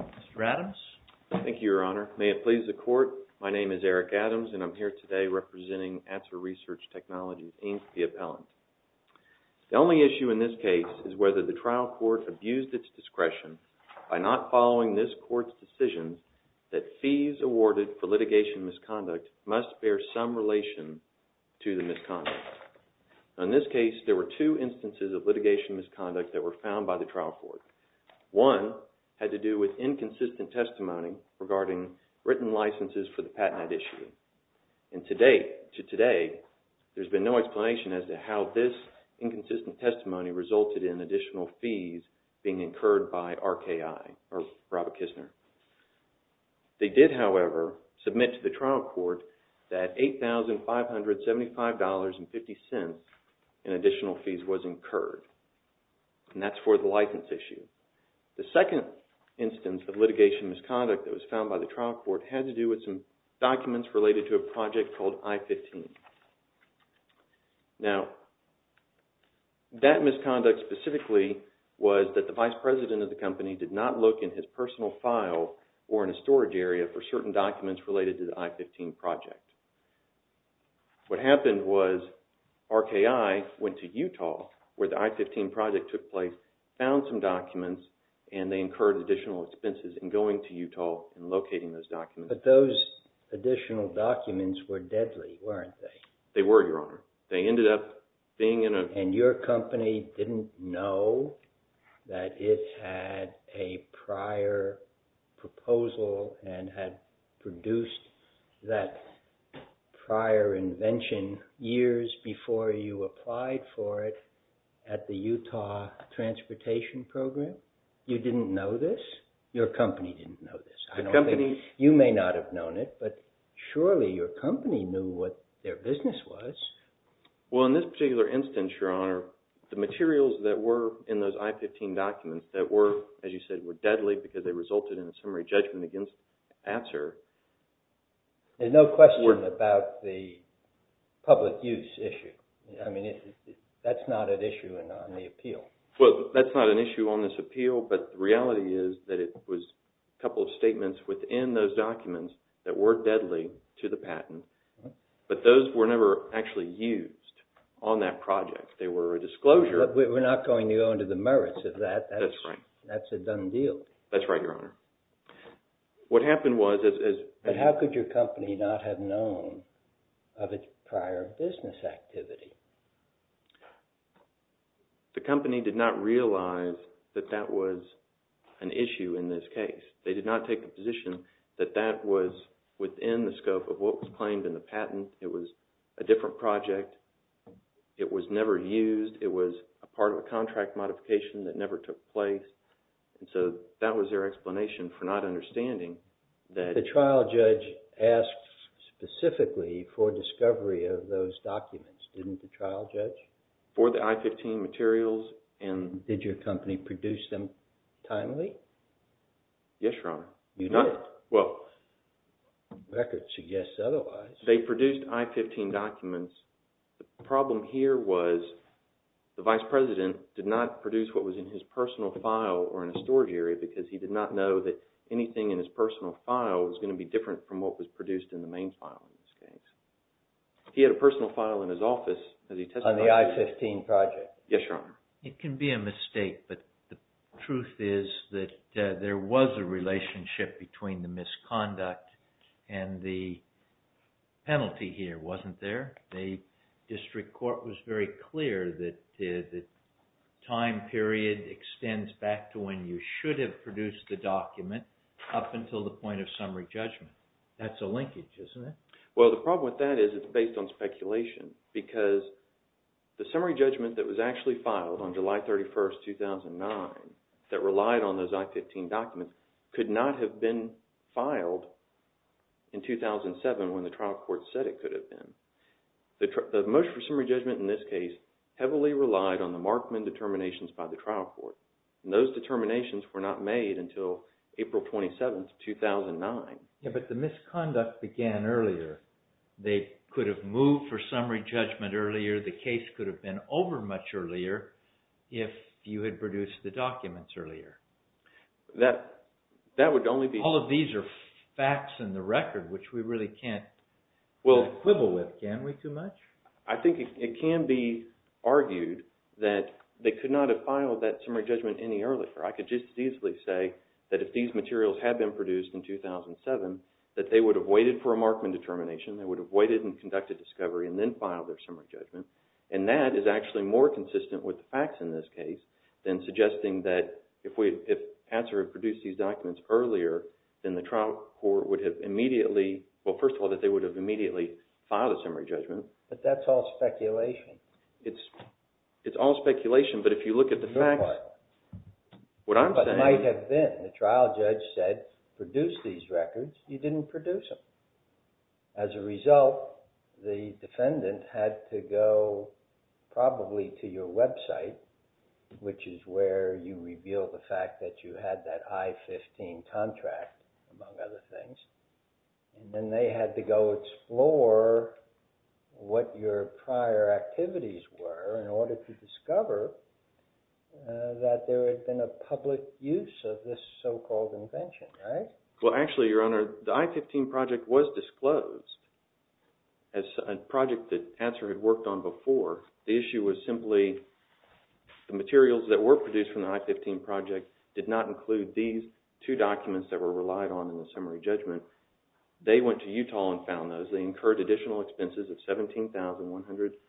Mr. Adams. Thank you, Your Honor. May it please the Court, my name is Eric Adams and I'm here today representing ATSER RESEARCH TECHNOLOGY, Inc., the appellant. The only issue in this case is whether the trial court abused its discretion by not following this court's decision that fees awarded for litigation misconduct must bear some relation to the misconduct. In this case, there were two instances of litigation misconduct that were found by the trial court. One had to do with inconsistent testimony regarding written licenses for the patent issue. And to date, to today, there's been no explanation as to how this inconsistent testimony resulted in additional fees being incurred by RKI, or Raba-Kistner. They did, however, submit to the trial court that $8,575.50 in additional fees was incurred, and that's for the license issue. The second instance of litigation misconduct that was found by the trial court had to do with some documents related to a project called I-15. Now, that misconduct specifically was that the vice president of the company did not look in his personal file or in a storage area for certain documents related to the I-15 project. What happened was RKI went to Utah, where the I-15 project took place, found some documents, and they incurred additional expenses in going to Utah and locating those documents. But those additional documents were deadly, weren't they? They were, Your Honor. They ended up being in a... And your company didn't know that it had a prior proposal and had produced that prior invention years before you applied for it at the Utah Transportation Program? You didn't know this? Your company didn't know this? The company... You may not have known it, but surely your company knew what their business was. Well, in this particular instance, Your Honor, the materials that were in those I-15 documents that were, as you said, were deadly because they resulted in a summary judgment against Atzer... There's no question about the public use issue. I mean, that's not an issue on the appeal. Well, that's not an issue on this appeal, but the reality is that it was a couple of statements within those documents that were deadly to the patent, but those were never actually used on that project. They were a disclosure... We're not going to go into the merits of that. That's right. That's a done deal. That's right, Your Honor. What happened was... But how could your company not have known of its prior business activity? The company did not realize that that was an issue in this case. They did not take the position that that was within the scope of what was claimed in the patent. It was a different project. It was never used. It was a part of a contract modification that never took place, and so that was their explanation for not understanding that... For the I-15 materials and... Did your company produce them timely? Yes, Your Honor. You did? Well... Records suggest otherwise. They produced I-15 documents. The problem here was the Vice President did not produce what was in his personal file or in a storage area because he did not know that anything in his personal file was going to be different from what was produced in the main file in this case. He had a personal file in his office as he testified... On the I-15 project. Yes, Your Honor. It can be a mistake, but the truth is that there was a relationship between the misconduct and the penalty here, wasn't there? The district court was very clear that the time period extends back to when you should have produced the document up until the point of summary judgment. That's a linkage, isn't it? Well, the problem with that is it's based on speculation because the summary judgment that was actually filed on July 31, 2009 that relied on those I-15 documents could not have been filed in 2007 when the trial court said it could have been. The motion for summary judgment in this case heavily relied on the Markman determinations by the trial court, and those determinations were not made until April 27, 2009. But the misconduct began earlier. They could have moved for summary judgment earlier. The case could have been over much earlier if you had produced the documents earlier. That would only be... All of these are facts in the record, which we really can't quibble with, can we, too much? I think it can be argued that they could not have filed that summary judgment any earlier. I could just as easily say that if these materials had been produced in 2007, that they would have waited for a Markman determination. They would have waited and conducted discovery and then filed their summary judgment. And that is actually more consistent with the facts in this case than suggesting that if Patser had produced these documents earlier, then the trial court would have immediately – well, first of all, that they would have immediately filed a summary judgment. But that's all speculation. It's all speculation, but if you look at the facts, what I'm saying... probably to your website, which is where you reveal the fact that you had that I-15 contract, among other things. And then they had to go explore what your prior activities were in order to discover that there had been a public use of this so-called invention, right? Well, actually, Your Honor, the I-15 project was disclosed as a project that Patser had worked on before. The issue was simply the materials that were produced from the I-15 project did not include these two documents that were relied on in the summary judgment. They went to Utah and found those. They incurred additional expenses of $17,149.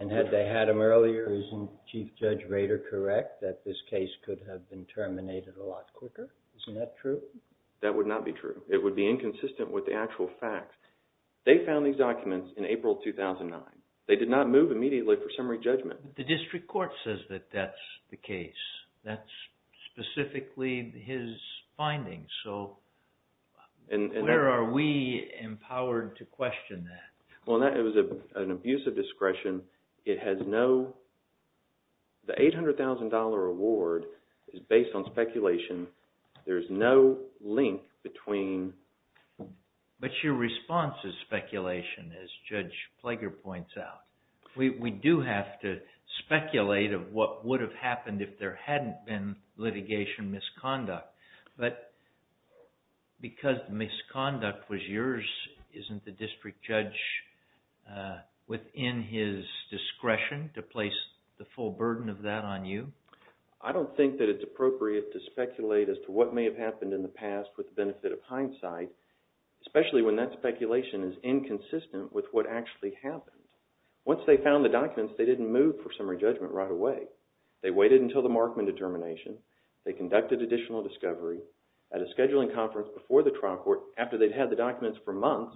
And had they had them earlier, isn't Chief Judge Rader correct that this case could have been terminated a lot quicker? Isn't that true? That would not be true. It would be inconsistent with the actual facts. They found these documents in April 2009. They did not move immediately for summary judgment. The district court says that that's the case. That's specifically his findings. So where are we empowered to question that? Well, it was an abuse of discretion. It has no – the $800,000 award is based on speculation. There's no link between – But your response is speculation, as Judge Plager points out. We do have to speculate of what would have happened if there hadn't been litigation misconduct. But because the misconduct was yours, isn't the district judge within his discretion to place the full burden of that on you? I don't think that it's appropriate to speculate as to what may have happened in the past with the benefit of hindsight, especially when that speculation is inconsistent with what actually happened. Once they found the documents, they didn't move for summary judgment right away. They waited until the Markman determination. They conducted additional discovery at a scheduling conference before the trial court. After they'd had the documents for months,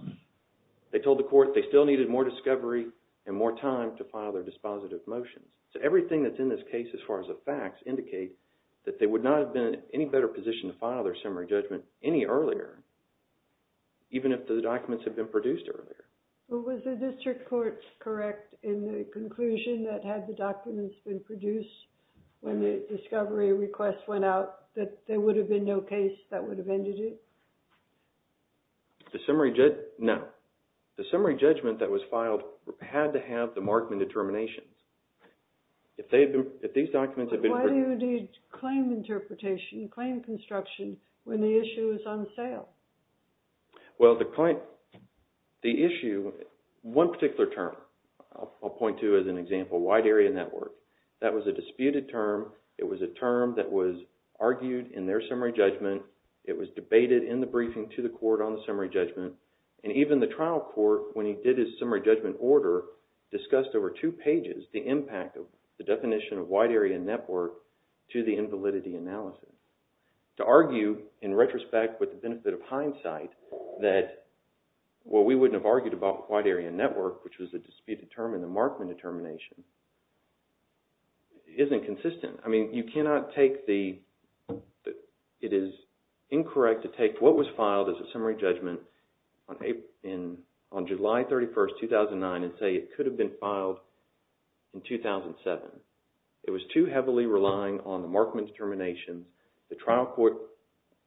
they told the court they still needed more discovery and more time to file their dispositive motions. So everything that's in this case as far as the facts indicates that they would not have been in any better position to file their summary judgment any earlier, even if the documents had been produced earlier. Was the district court correct in the conclusion that had the documents been produced when the discovery request went out, that there would have been no case that would have ended it? No. The summary judgment that was filed had to have the Markman determinations. But why do you need claim interpretation, claim construction, when the issue is on sale? Well, the issue – one particular term I'll point to as an example, wide area network. That was a disputed term. It was a term that was argued in their summary judgment. It was debated in the briefing to the court on the summary judgment. And even the trial court, when he did his summary judgment order, discussed over two pages the impact of the definition of wide area network to the invalidity analysis. To argue in retrospect with the benefit of hindsight that, well, we wouldn't have argued about wide area network, which was a disputed term in the Markman determination, isn't consistent. I mean, you cannot take the – it is incorrect to take what was filed as a summary judgment on July 31, 2009, and say it could have been filed in 2007. It was too heavily relying on the Markman determination. The trial court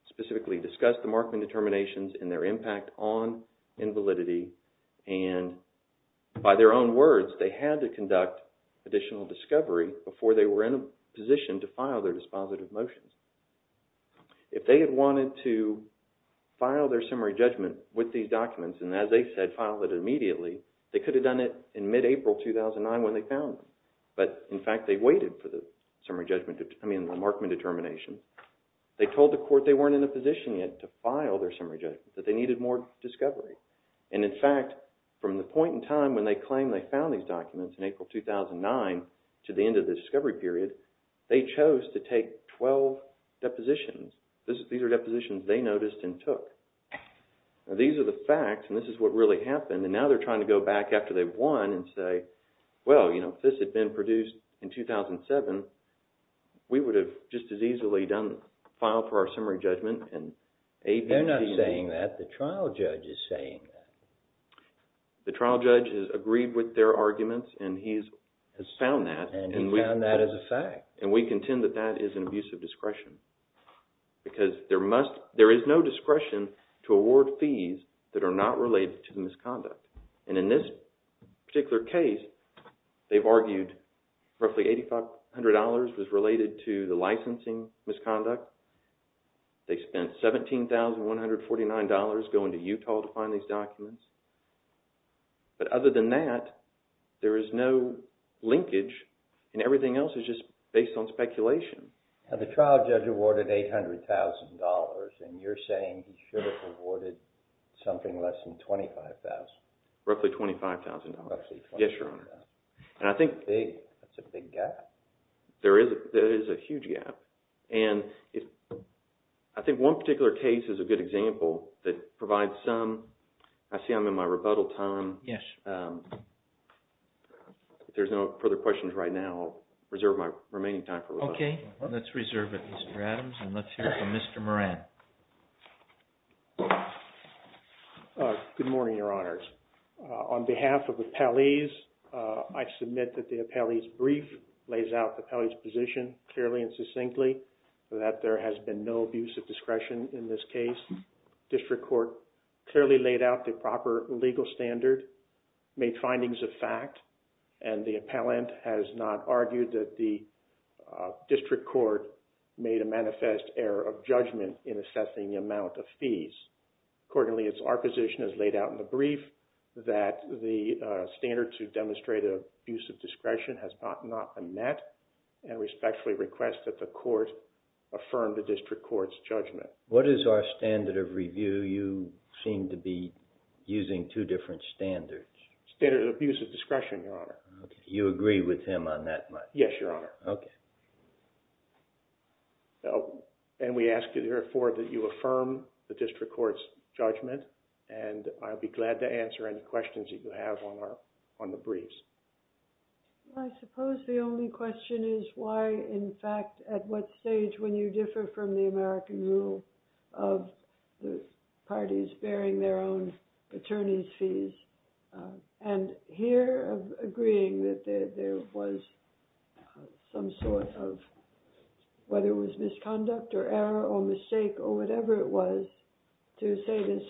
specifically discussed the Markman determinations and their impact on invalidity. And by their own words, they had to conduct additional discovery before they were in a position to file their dispositive motions. If they had wanted to file their summary judgment with these documents, and as they said, file it immediately, they could have done it in mid-April 2009 when they found them. But, in fact, they waited for the summary judgment – I mean, the Markman determination. They told the court they weren't in a position yet to file their summary judgment, that they needed more discovery. And, in fact, from the point in time when they claimed they found these documents in April 2009 to the end of the discovery period, they chose to take 12 depositions. These are depositions they noticed and took. These are the facts, and this is what really happened. And now they're trying to go back after they won and say, well, you know, if this had been produced in 2007, we would have just as easily filed for our summary judgment. They're not saying that. The trial judge is saying that. The trial judge has agreed with their arguments, and he has found that. And he found that as a fact. And we contend that that is an abuse of discretion. Because there is no discretion to award fees that are not related to the misconduct. And in this particular case, they've argued roughly $8,500 was related to the licensing misconduct. They spent $17,149 going to Utah to find these documents. But other than that, there is no linkage, and everything else is just based on speculation. Now, the trial judge awarded $800,000, and you're saying he should have awarded something less than $25,000. Roughly $25,000. Roughly $25,000. Yes, Your Honor. That's a big gap. There is a huge gap. And I think one particular case is a good example that provides some – I see I'm in my rebuttal time. Yes. If there's no further questions right now, I'll reserve my remaining time for rebuttal. Okay. Let's reserve it, Mr. Adams. And let's hear from Mr. Moran. Good morning, Your Honors. On behalf of the appellees, I submit that the appellee's brief lays out the appellee's position clearly and succinctly, that there has been no abuse of discretion in this case. District Court clearly laid out the proper legal standard, made findings of fact, and the appellant has not argued that the district court made a manifest error of judgment in assessing the amount of fees. Accordingly, it's our position as laid out in the brief that the standard to demonstrate an abuse of discretion has not been met and respectfully request that the court affirm the district court's judgment. What is our standard of review? You seem to be using two different standards. Standard of abuse of discretion, Your Honor. You agree with him on that one? Yes, Your Honor. Okay. And we ask you therefore that you affirm the district court's judgment, and I'll be glad to answer any questions that you have on the briefs. Well, I suppose the only question is why, in fact, at what stage, when you differ from the American rule of the parties bearing their own attorney's fees, and here agreeing that there was some sort of, whether it was misconduct or error or mistake or whatever it was, to say this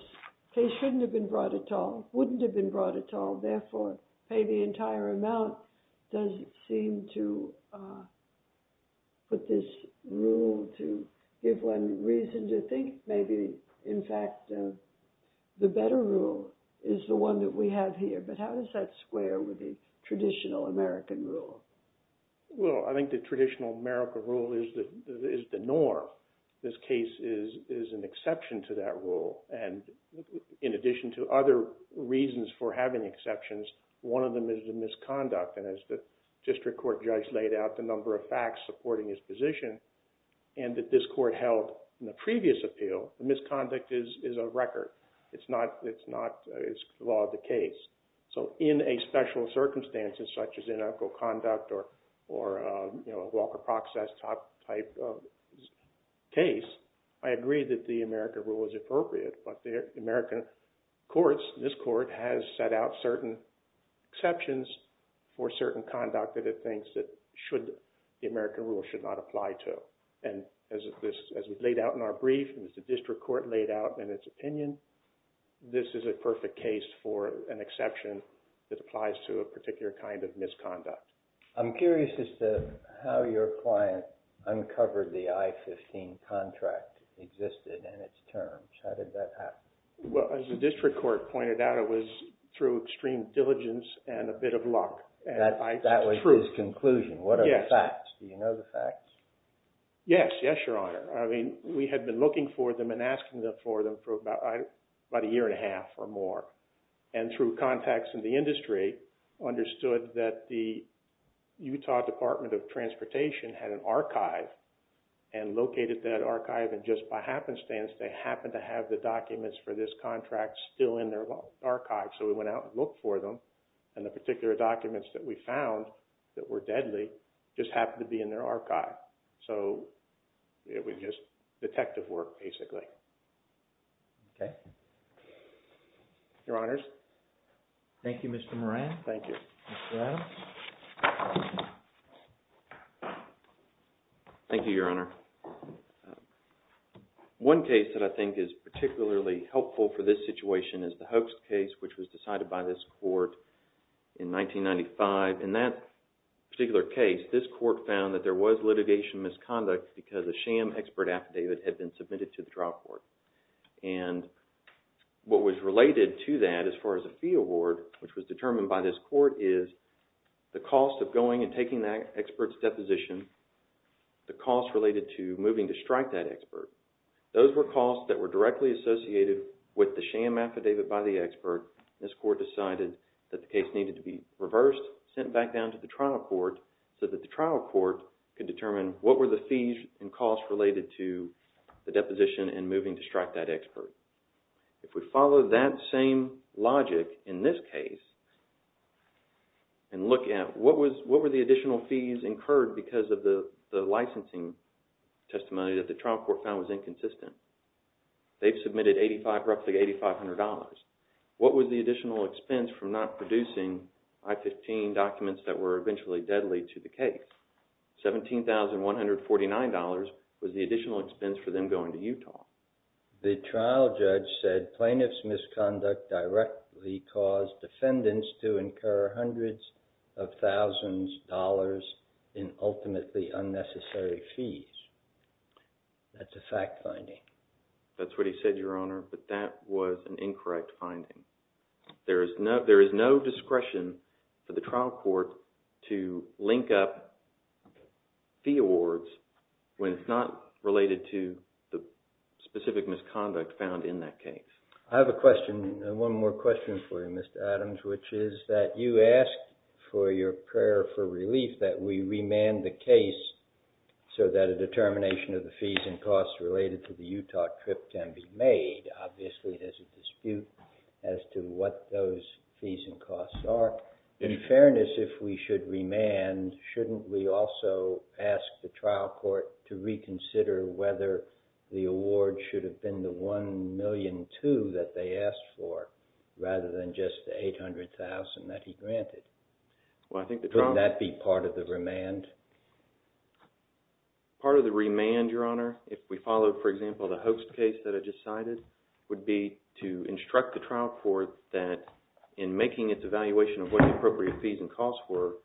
case shouldn't have been brought at all, wouldn't have been brought at all, therefore pay the entire amount doesn't seem to put this rule to give one reason to think. Maybe, in fact, the better rule is the one that we have here, but how does that square with the traditional American rule? Well, I think the traditional American rule is the norm. This case is an exception to that rule, and in addition to other reasons for having exceptions, one of them is the misconduct, and as the district court judge laid out, the number of facts supporting his position and that this court held in the previous appeal, the misconduct is a record. It's not the law of the case. So in a special circumstance such as inequal conduct or a Walker-Proxas type of case, I agree that the American rule is appropriate, but the American courts, this court, has set out certain exceptions for certain conduct that it thinks the American rule should not apply to, and as we laid out in our brief and as the district court laid out in its opinion, this is a perfect case for an exception that applies to a particular kind of misconduct. I'm curious as to how your client uncovered the I-15 contract existed in its terms. How did that happen? Well, as the district court pointed out, it was through extreme diligence and a bit of luck. That was his conclusion. Yes. What are the facts? Do you know the facts? Yes. Yes, Your Honor. I mean, we had been looking for them and asking for them for about a year and a half or more, and through contacts in the industry understood that the Utah Department of Transportation had an archive and located that archive, and just by happenstance, they happened to have the documents for this contract still in their archive. So we went out and looked for them, and the particular documents that we found that were deadly just happened to be in their archive. So it was just detective work, basically. Okay. Your Honors. Thank you, Mr. Moran. Thank you. Mr. Adams. Thank you, Your Honor. One case that I think is particularly helpful for this situation is the Hoax case, which was decided by this court in 1995. In that particular case, this court found that there was litigation misconduct because a sham expert affidavit had been submitted to the trial court. And what was related to that as far as a fee award, which was determined by this court, is the cost of going and taking that expert's deposition, the cost related to moving to strike that expert. Those were costs that were directly associated with the sham affidavit by the expert. This court decided that the case needed to be reversed, sent back down to the trial court, so that the trial court could determine what were the fees and costs related to the deposition and moving to strike that expert. If we follow that same logic in this case and look at what were the additional fees incurred because of the licensing testimony that the trial court found was inconsistent. They've submitted roughly $8,500. What was the additional expense for not producing I-15 documents that were eventually deadly to the case? $17,149 was the additional expense for them going to Utah. The trial judge said plaintiff's misconduct directly caused defendants to incur hundreds of thousands of dollars in ultimately unnecessary fees. That's a fact finding. That's what he said, Your Honor, but that was an incorrect finding. There is no discretion for the trial court to link up fee awards when it's not related to the specific misconduct found in that case. I have a question. One more question for you, Mr. Adams, which is that you asked for your prayer for relief that we remand the case so that a determination of the fees and costs related to the Utah trip can be made. Obviously, there's a dispute as to what those fees and costs are. In fairness, if we should remand, shouldn't we also ask the trial court to reconsider whether the award should have been the $1,000,002 that they asked for rather than just the $800,000 that he granted? Wouldn't that be part of the remand? Part of the remand, Your Honor, if we follow, for example, the hoax case that I just cited, would be to instruct the trial court that in making its evaluation of what the appropriate fees and costs were,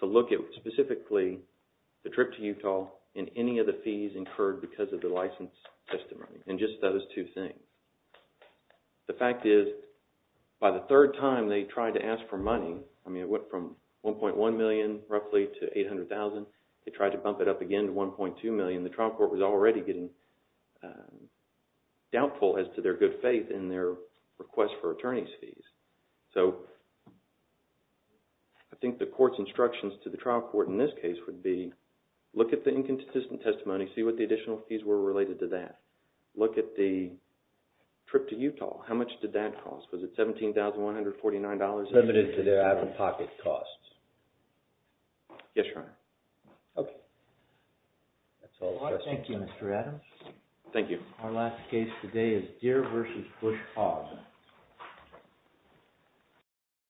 to look at specifically the trip to Utah and any of the fees incurred because of the license testimony and just those two things. The fact is by the third time they tried to ask for money, I mean it went from $1.1 million roughly to $800,000. They tried to bump it up again to $1.2 million. The trial court was already getting doubtful as to their good faith in their request for attorney's fees. So I think the court's instructions to the trial court in this case would be look at the inconsistent testimony, see what the additional fees were related to that. Look at the trip to Utah. How much did that cost? Was it $17,149? Limited to their out-of-pocket costs. Yes, Your Honor. Okay. That's all the questions. Thank you, Mr. Adams. Thank you. Our last case today is Deere v. Bush Farm.